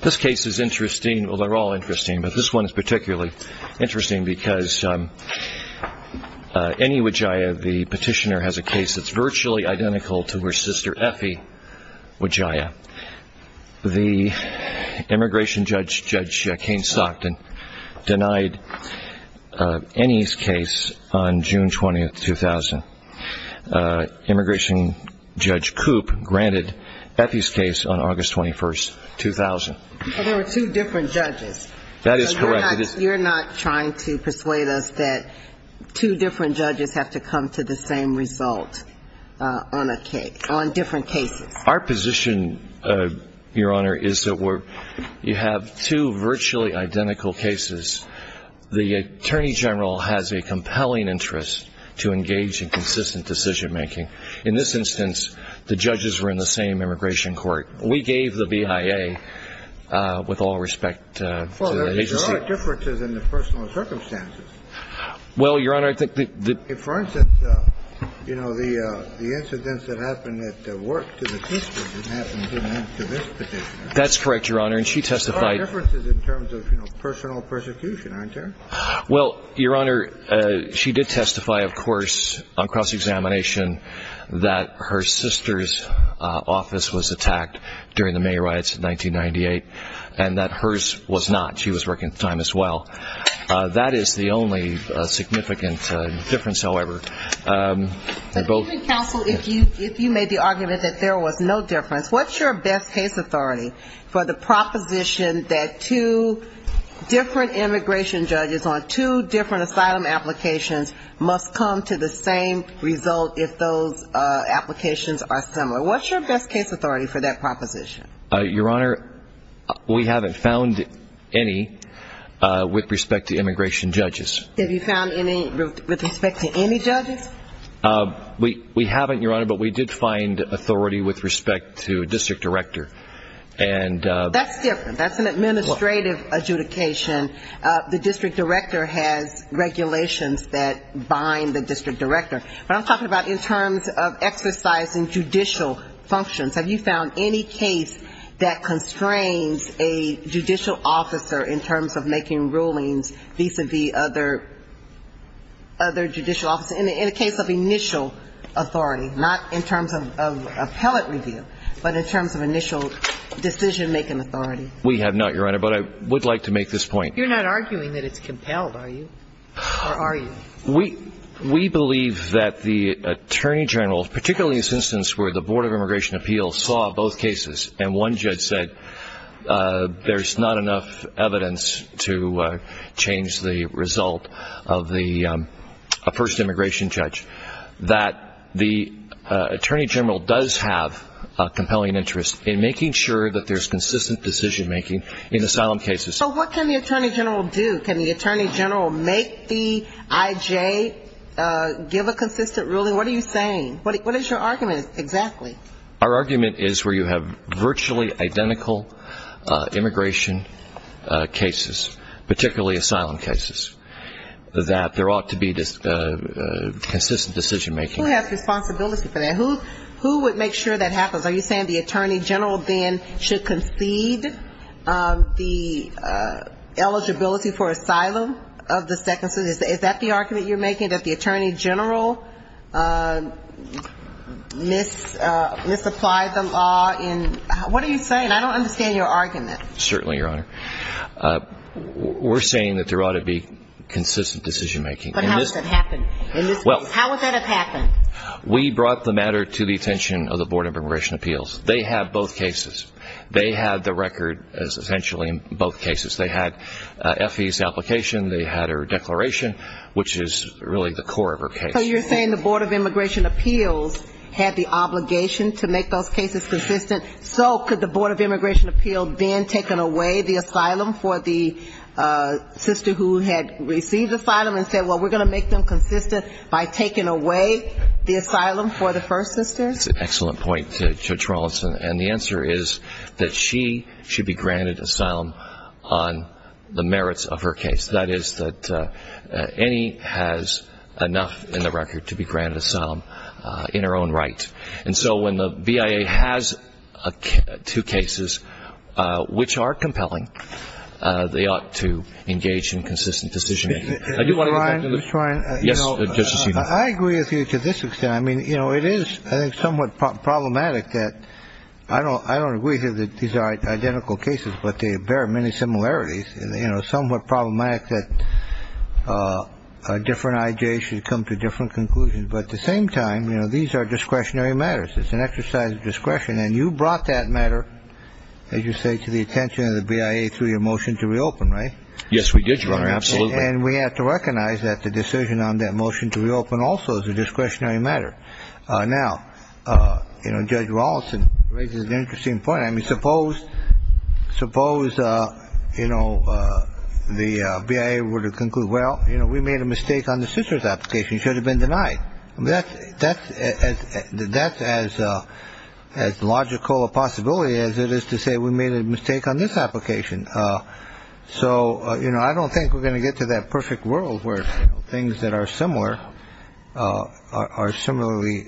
This case is interesting, well they're all interesting, but this one is particularly interesting because Eni Wajaja, the petitioner, has a case that's virtually identical to her sister Effie Wajaja. The immigration judge, Judge Kane Stockton, denied Eni's case on June 20, 2000. Immigration Judge Koop granted Effie's case on August 21, 2000. There were two different judges. That is correct. You're not trying to persuade us that two different judges have to come to the same result on different cases. Our position, Your Honor, is that you have two virtually identical cases. The Attorney General has a compelling interest to engage in consistent decision-making. In this instance, the judges were in the same immigration court. We gave the BIA, with all respect to the agency. Well, there are differences in the personal circumstances. Well, Your Honor, I think that the For instance, you know, the incidents that happened at work to the sister didn't happen to this petitioner. That's correct, Your Honor, and she testified There are differences in terms of, you know, personal persecution, aren't there? Well, Your Honor, she did testify, of course, on cross-examination that her sister's office was attacked during the May riots of 1998 and that hers was not. She was working at the time as well. That is the only significant difference, however. Counsel, if you made the argument that there was no difference, what's your best case authority for the proposition that two different immigration judges on two different asylum applications must come to the same result if those applications are similar? What's your best case authority for that proposition? Your Honor, we haven't found any with respect to immigration judges. Have you found any with respect to any judges? We haven't, Your Honor, but we did find authority with respect to district director. That's different. That's an administrative adjudication. The district director has regulations that bind the district director. But I'm talking about in terms of exercising judicial functions. Have you found any case that constrains a judicial officer in terms of making rulings vis-à-vis other judicial officers? In the case of initial authority, not in terms of appellate review, but in terms of initial decision-making authority. We have not, Your Honor, but I would like to make this point. You're not arguing that it's compelled, are you? Or are you? We believe that the Attorney General, particularly this instance where the Board of Immigration Appeals saw both cases and one judge said there's not enough evidence to change the result of the first immigration judge, that the Attorney General does have a compelling interest in making sure that there's consistent decision-making in asylum cases. So what can the Attorney General do? Can the Attorney General make the IJ give a consistent ruling? What are you saying? What is your argument exactly? Our argument is where you have virtually identical immigration cases, particularly asylum cases, that there ought to be consistent decision-making. Who has responsibility for that? Who would make sure that happens? Are you saying the Attorney General then should concede the eligibility for asylum of the second? Is that the argument you're making, that the Attorney General misapplied the law? What are you saying? I don't understand your argument. Certainly, Your Honor. We're saying that there ought to be consistent decision-making. But how would that happen? How would that have happened? We brought the matter to the attention of the Board of Immigration Appeals. They had both cases. They had the record, essentially, in both cases. They had FE's application. They had her declaration, which is really the core of her case. So you're saying the Board of Immigration Appeals had the obligation to make those cases consistent. So could the Board of Immigration Appeals then take away the asylum for the sister who had received asylum and said, well, we're going to make them consistent by taking away the asylum for the first sister? That's an excellent point, Judge Rawlinson. And the answer is that she should be granted asylum on the merits of her case. That is, that Annie has enough in the record to be granted asylum in her own right. And so when the BIA has two cases which are compelling, they ought to engage in consistent decision-making. I do want to go back to the ---- Ryan, just Ryan. Yes, Justice Kennedy. I agree with you to this extent. I mean, you know, it is, I think, somewhat problematic that ---- I don't agree here that these are identical cases, but they bear many similarities. You know, somewhat problematic that a different IJ should come to different conclusions. But at the same time, you know, these are discretionary matters. It's an exercise of discretion. And you brought that matter, as you say, to the attention of the BIA through your motion to reopen, right? Yes, we did, Your Honor. Absolutely. And we have to recognize that the decision on that motion to reopen also is a discretionary matter. Now, you know, Judge Rawlinson raises an interesting point. I mean, suppose, suppose, you know, the BIA were to conclude, well, you know, we made a mistake on the sisters application, you should have been denied. That's as logical a possibility as it is to say we made a mistake on this application. So, you know, I don't think we're going to get to that perfect world where things that are similar are similarly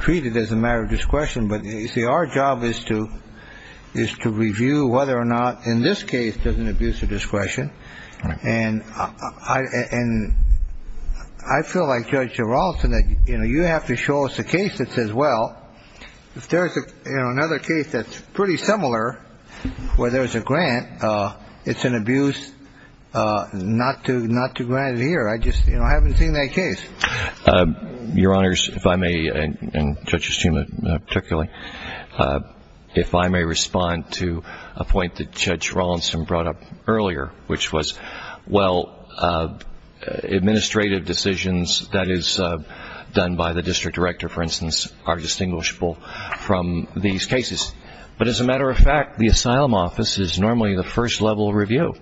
treated as a matter of discretion. But, you see, our job is to review whether or not in this case there's an abuse of discretion. And I feel like, Judge Rawlinson, that, you know, you have to show us a case that says, well, if there's another case that's pretty similar where there's a grant, it's an abuse not to grant it here. I just haven't seen that case. Your Honors, if I may, and Judge Estima particularly, if I may respond to a point that Judge Rawlinson brought up earlier, which was, well, these cases, but as a matter of fact, the Asylum Office is normally the first level review.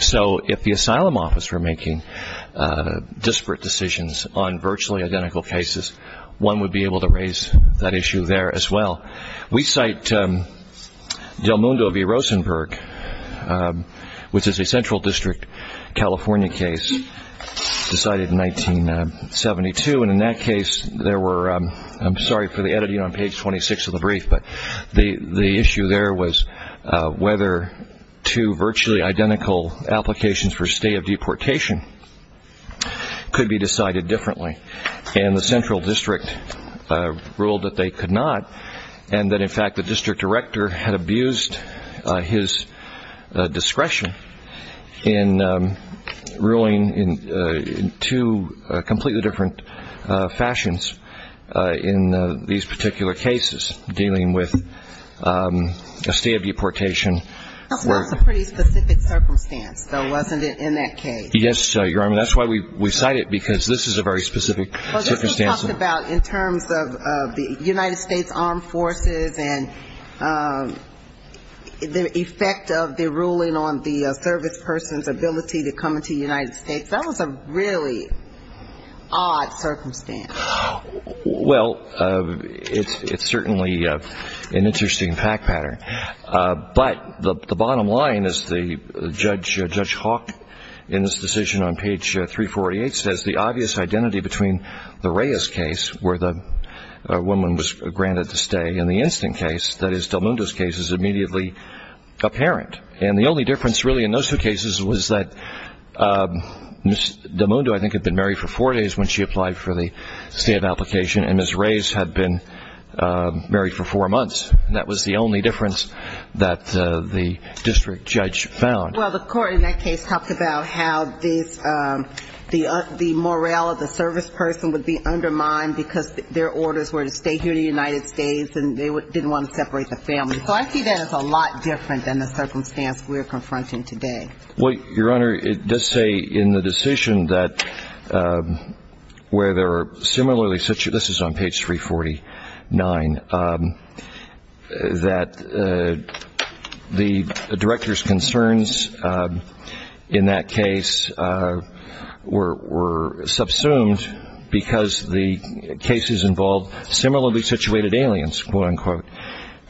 So if the Asylum Office were making disparate decisions on virtually identical cases, one would be able to raise that issue there as well. We cite Del Mundo v. Rosenberg, which is a Central District, California case decided in 1972. And in that case there were, I'm sorry for the editing on page 26 of the brief, but the issue there was whether two virtually identical applications for stay of deportation could be decided differently. And the Central District ruled that they could not and that, in fact, the district director had abused his discretion in ruling in two completely different fashions in these particular cases dealing with a stay of deportation. That's a pretty specific circumstance, though, wasn't it, in that case? Yes, Your Honor. That's why we cite it, because this is a very specific circumstance. Well, this is talked about in terms of the United States Armed Forces and the effect of the ruling on the service person's ability to come into the United States. That was a really odd circumstance. Well, it's certainly an interesting fact pattern. But the bottom line is Judge Hawk in his decision on page 348 says the obvious identity between the Reyes case, where the woman was granted to stay, and the instant case, that is Del Mundo's case, is immediately apparent. And the only difference really in those two cases was that Ms. Del Mundo, I think, had been married for four days when she applied for the stay of application, and Ms. Reyes had been married for four months. And that was the only difference that the district judge found. Well, the court in that case talked about how the morale of the service person would be undermined because their orders were to stay here in the United States and they didn't want to separate the family. So I see that as a lot different than the circumstance we're confronting today. Well, Your Honor, it does say in the decision that where there are similarly situated, this is on page 349, that the director's concerns in that case were subsumed because the cases involved similarly situated aliens, quote-unquote.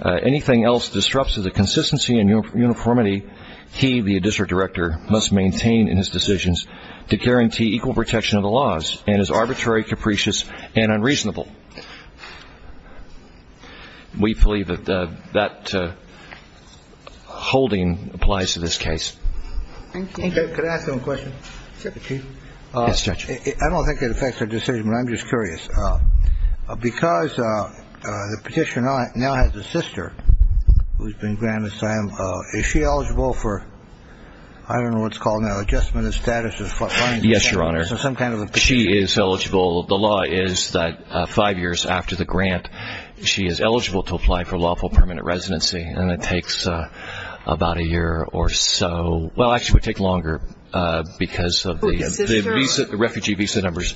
Anything else disrupts the consistency and uniformity he, the district director, must maintain in his decisions to guarantee equal protection of the laws and is arbitrary, capricious and unreasonable. We believe that that holding applies to this case. Thank you. Could I ask a question? Yes, Judge. I don't think it affects the decision, but I'm just curious. Because the petitioner now has a sister who's been granted. So is she eligible for I don't know what's called an adjustment of status? Yes, Your Honor. So some kind of she is eligible. The law is that five years after the grant, she is eligible to apply for lawful permanent residency. And it takes about a year or so. Well, actually, it would take longer because of the refugee visa numbers.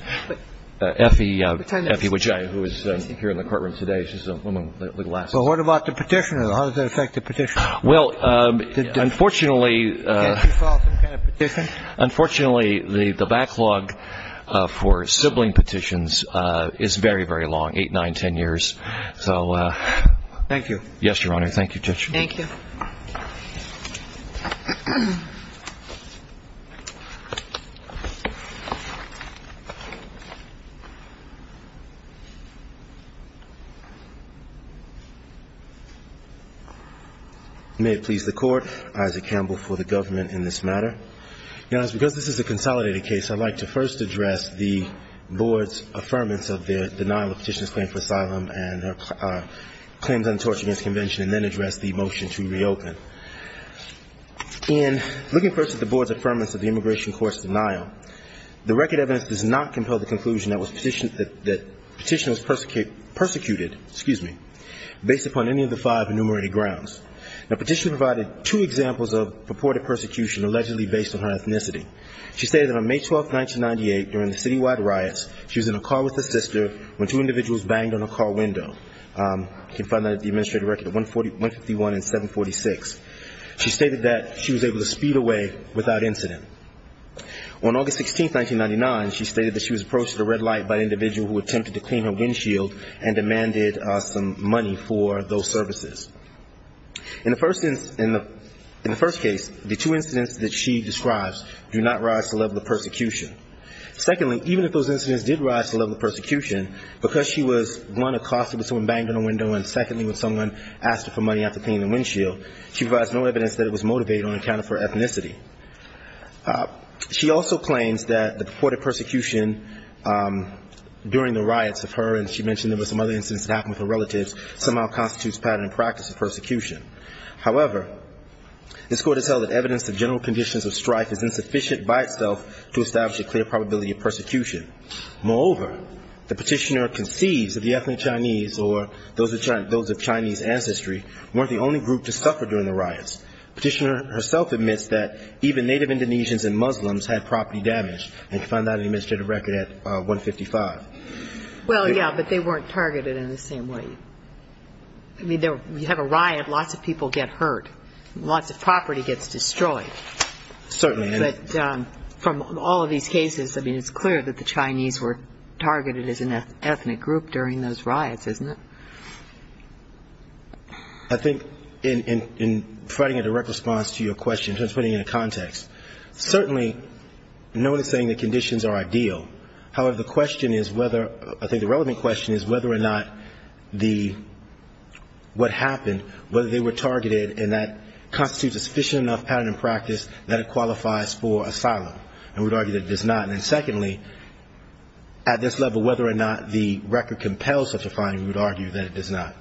Effie, who is here in the courtroom today, she's among the last. So what about the petitioner? How does that affect the petitioner? Well, unfortunately, the backlog for sibling petitions is very, very long, eight, nine, ten years. So thank you. Yes, Your Honor. Thank you, Judge. Thank you. May it please the Court. Isaac Campbell for the government in this matter. Your Honor, because this is a consolidated case, I'd like to first address the board's affirmance of their denial of petitioner's claim for asylum and her claims on torture against convention and then address the motion to reopen. In looking first at the board's affirmance of the immigration court's denial, the record evidence does not compel the conclusion that petitioner was persecuted, excuse me, based upon any of the five enumerated grounds. The petitioner provided two examples of purported persecution allegedly based on her ethnicity. She stated that on May 12, 1998, during the citywide riots, she was in a car with her sister when two individuals banged on a car window. You can find that at the administrative record at 151 and 746. She stated that she was able to speed away without incident. On August 16, 1999, she stated that she was approached at a red light by an individual who attempted to clean her windshield and demanded some money for those services. In the first case, the two incidents that she describes do not rise to the level of persecution. Secondly, even if those incidents did rise to the level of persecution, because she was, one, accosted with someone banging on a window, and secondly, when someone asked her for money after cleaning the windshield, she provides no evidence that it was motivated on account of her ethnicity. She also claims that the purported persecution during the riots of her, and she mentioned there were some other incidents that happened with her relatives, somehow constitutes pattern and practice of persecution. However, this court has held that evidence of general conditions of strife is insufficient by itself to establish a clear probability of persecution. Moreover, the petitioner concedes that the ethnic Chinese or those of Chinese ancestry weren't the only group to suffer during the riots. The petitioner herself admits that even native Indonesians and Muslims had property damage, and you can find that in the administrative record at 155. Well, yeah, but they weren't targeted in the same way. I mean, you have a riot, lots of people get hurt. Lots of property gets destroyed. Certainly. But from all of these cases, I mean, it's clear that the Chinese were targeted as an ethnic group during those riots, isn't it? I think in fighting a direct response to your question, just putting it in context, certainly no one is saying the conditions are ideal. However, the question is whether, I think the relevant question is whether or not the, what happened, whether they were targeted, and that constitutes a sufficient enough pattern in practice that it qualifies for asylum, and we'd argue that it does not. And secondly, at this level, whether or not the record compels such a finding, we would argue that it does not.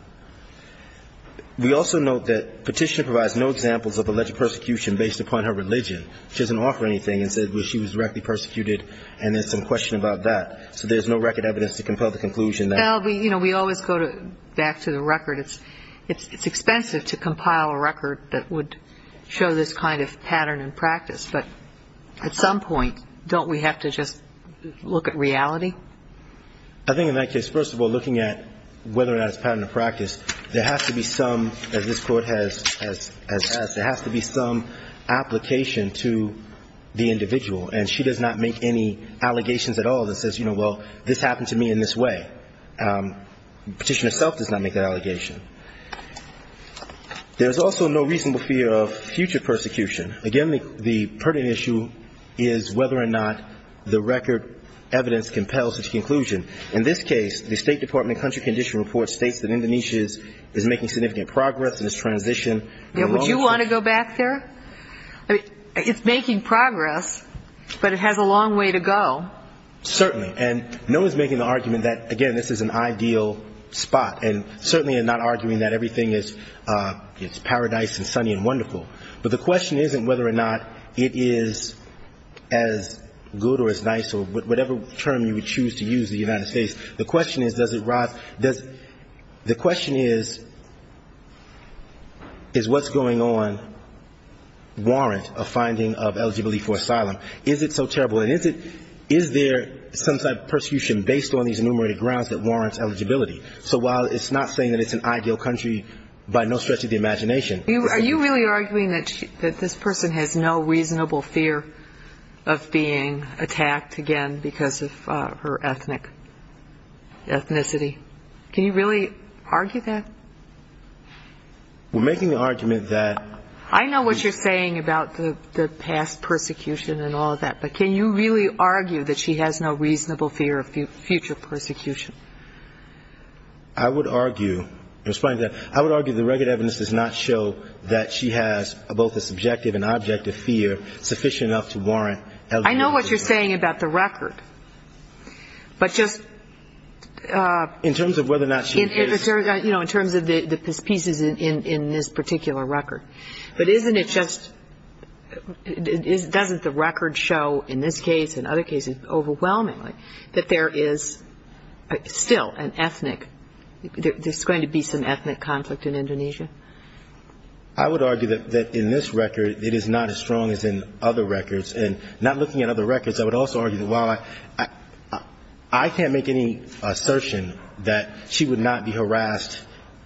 We also note that petitioner provides no examples of alleged persecution based upon her religion. She doesn't offer anything and said she was directly persecuted, and there's some question about that. So there's no record evidence to compel the conclusion that. Well, you know, we always go back to the record. It's expensive to compile a record that would show this kind of pattern in practice. But at some point, don't we have to just look at reality? I think in that case, first of all, looking at whether or not it's a pattern of practice, there has to be some, as this Court has asked, there has to be some application to the individual. And she does not make any allegations at all that says, you know, well, this happened to me in this way. But petitioner herself does not make that allegation. There's also no reasonable fear of future persecution. Again, the pertinent issue is whether or not the record evidence compels such a conclusion. In this case, the State Department Country Condition Report states that Indonesia is making significant progress in this transition. Would you want to go back there? It's making progress, but it has a long way to go. Certainly, and no one's making the argument that, again, this is an ideal spot, and certainly not arguing that everything is paradise and sunny and wonderful. But the question isn't whether or not it is as good or as nice, or whatever term you would choose to use in the United States. The question is, does it rise, the question is, is what's going on warrant a finding of eligibility for asylum? Is it so terrible? And is there some type of persecution based on these enumerated grounds that warrants eligibility? So while it's not saying that it's an ideal country, by no stretch of the imagination. Are you really arguing that this person has no reasonable fear of being attacked again because of her ethnic, ethnicity? Can you really argue that? We're making the argument that. I know what you're saying about the past persecution and all of that, but can you really argue that she has no reasonable fear of future persecution? I would argue, in response to that, I would argue the regular evidence does not show that she has both a subjective and objective fear sufficient enough to warrant eligibility. I know what you're saying about the record, but just... In terms of whether or not she is... But isn't it just, doesn't the record show in this case and other cases overwhelmingly that there is still an ethnic, there's going to be some ethnic conflict in Indonesia? I would argue that in this record it is not as strong as in other records. And not looking at other records, I would also argue that while I can't make any assertion that she would not be harassed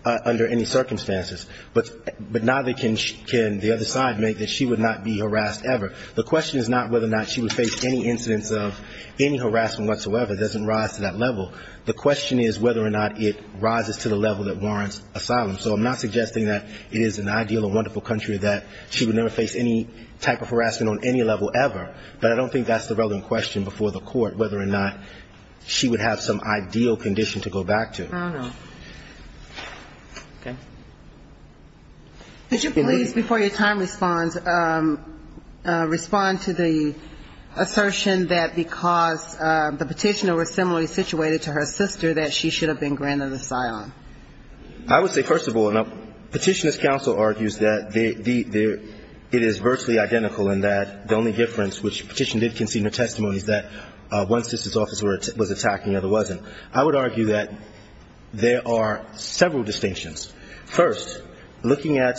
under any circumstances, but neither can the other side make that she would not be harassed ever. The question is not whether or not she would face any incidents of any harassment whatsoever. It doesn't rise to that level. The question is whether or not it rises to the level that warrants asylum. So I'm not suggesting that it is an ideal or wonderful country, that she would never face any type of harassment on any level ever. But I don't think that's the relevant question before the court, whether or not she would have some ideal condition to go back to. I don't know. Okay. Could you please, before your time responds, respond to the assertion that because the petitioner was similarly situated to her sister, that she should have been granted asylum? I would say, first of all, petitioner's counsel argues that it is virtually identical in that the only difference, which the petitioner did concede in her testimony, is that one sister's office was attacked and the other wasn't. I would argue that there are several distinctions. First, looking at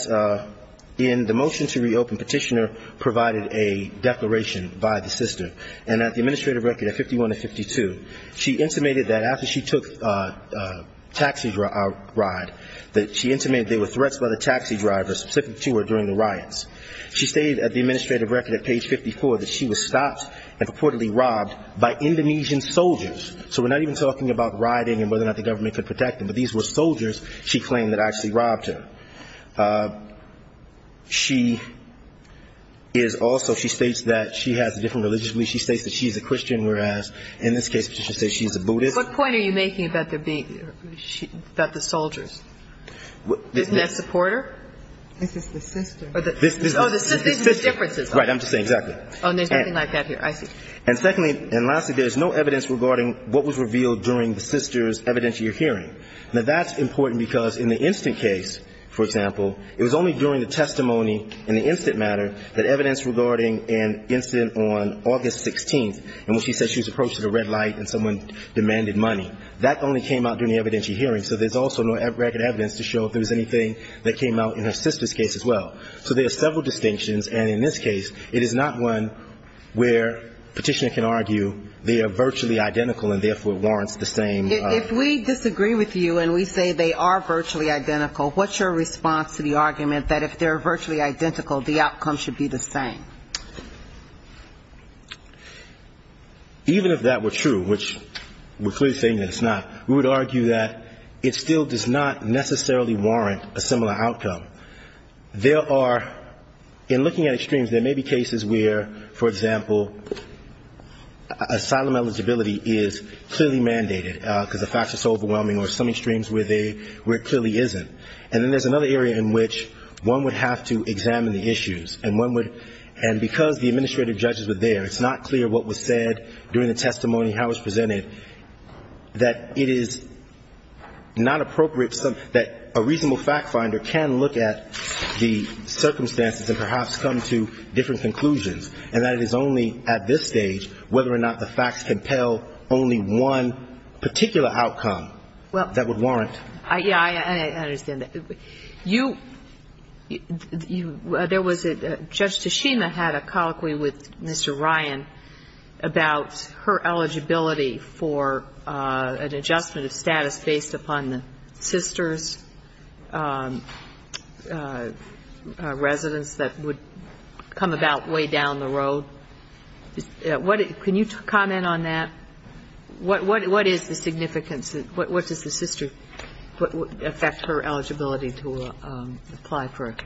in the motion to reopen, petitioner provided a declaration by the sister. And at the administrative record at 51 and 52, she intimated that after she took a taxi ride, that she intimated there were threats by the taxi driver specific to her during the riots. She stated at the administrative record at page 54 that she was stopped and purportedly robbed by Indonesian soldiers. So we're not even talking about rioting and whether or not the government could protect them. But these were soldiers, she claimed, that actually robbed her. She is also, she states that she has a different religious belief. She states that she is a Christian, whereas in this case the petitioner states she is a Buddhist. What point are you making about the soldiers? Isn't that a supporter? This is the sister. Oh, the sister. These are the differences. Right. I'm just saying, exactly. Oh, and there's nothing like that here. I see. And secondly, and lastly, there's no evidence regarding what was revealed during the sister's evidentiary hearing. Now, that's important because in the instant case, for example, it was only during the testimony in the instant matter that evidence regarding an incident on August 16th in which she said she was approached at a red light and someone demanded money, that only came out during the evidentiary hearing. So there's also no record evidence to show if there was anything that came out in her sister's case as well. So there are several distinctions. And in this case, it is not one where petitioner can argue they are virtually identical and therefore warrants the same. If we disagree with you and we say they are virtually identical, what's your response to the argument that if they're virtually identical, the outcome should be the same? Even if that were true, which we're clearly saying that it's not, we would argue that it still does not necessarily warrant a similar outcome. There are, in looking at extremes, there may be cases where, for example, asylum eligibility is clearly mandated because the facts are so overwhelming or some extremes where it clearly isn't. And then there's another area in which one would have to examine the issues and because the administrative judges were there, it's not clear what was said during the testimony, how it was presented, that it is not appropriate, that a reasonable fact finder can look at the circumstances and perhaps come to different conclusions, and that it is only at this stage whether or not the facts compel only one particular outcome that would warrant. Yeah, I understand that. You, there was a, Judge Tashima had a colloquy with Mr. Ryan about her eligibility for an adjustment of status based upon the sister's residence that would come about way down the road. Can you comment on that? What is the significance? What does the sister, what would affect her eligibility to apply for it?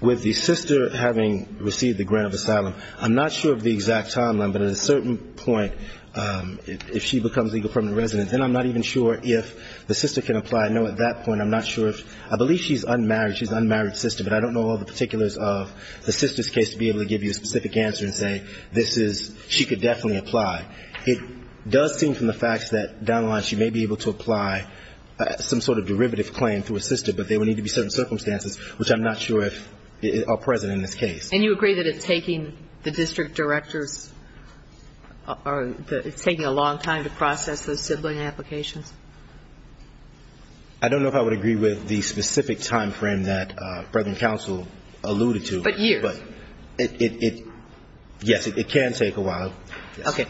With the sister having received the grant of asylum, I'm not sure of the exact timeline, but at a certain point, if she becomes a legal permanent resident, then I'm not even sure if the sister can apply. I know at that point I'm not sure if, I believe she's unmarried, she's an unmarried sister, but I don't know all the particulars of the sister's case to be able to give you a specific answer and say this is, she could definitely apply. It does seem from the facts that down the line she may be able to apply some sort of derivative claim to her sister, but there would need to be certain circumstances, which I'm not sure are present in this case. And you agree that it's taking the district directors, it's taking a long time to process those sibling applications? I don't know if I would agree with the specific timeframe that Brethren Counsel alluded to. But years. Yes, it can take a while. Okay.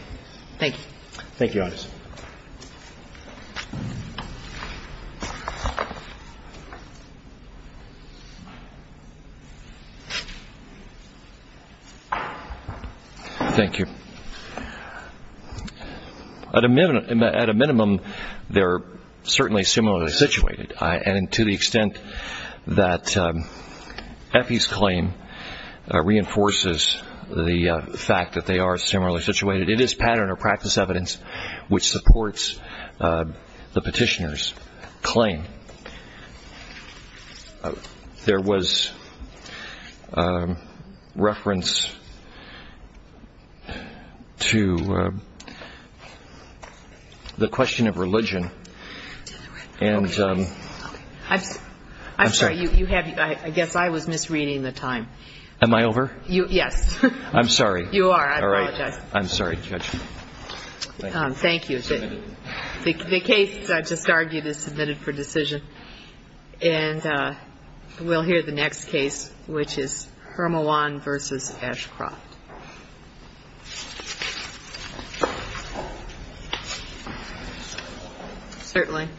Thank you. Thank you, Otis. Thank you. At a minimum, they're certainly similarly situated, and to the extent that Effie's claim reinforces the fact that they are similarly situated, it is pattern or practice evidence which supports the petitioner's claim. There was reference to the question of religion. I'm sorry. I guess I was misreading the time. Am I over? Yes. I'm sorry. You are. I apologize. I'm sorry, Judge. Thank you. Thank you. The case I just argued is submitted for decision. And we'll hear the next case, which is Hermawan v. Ashcroft. Certainly.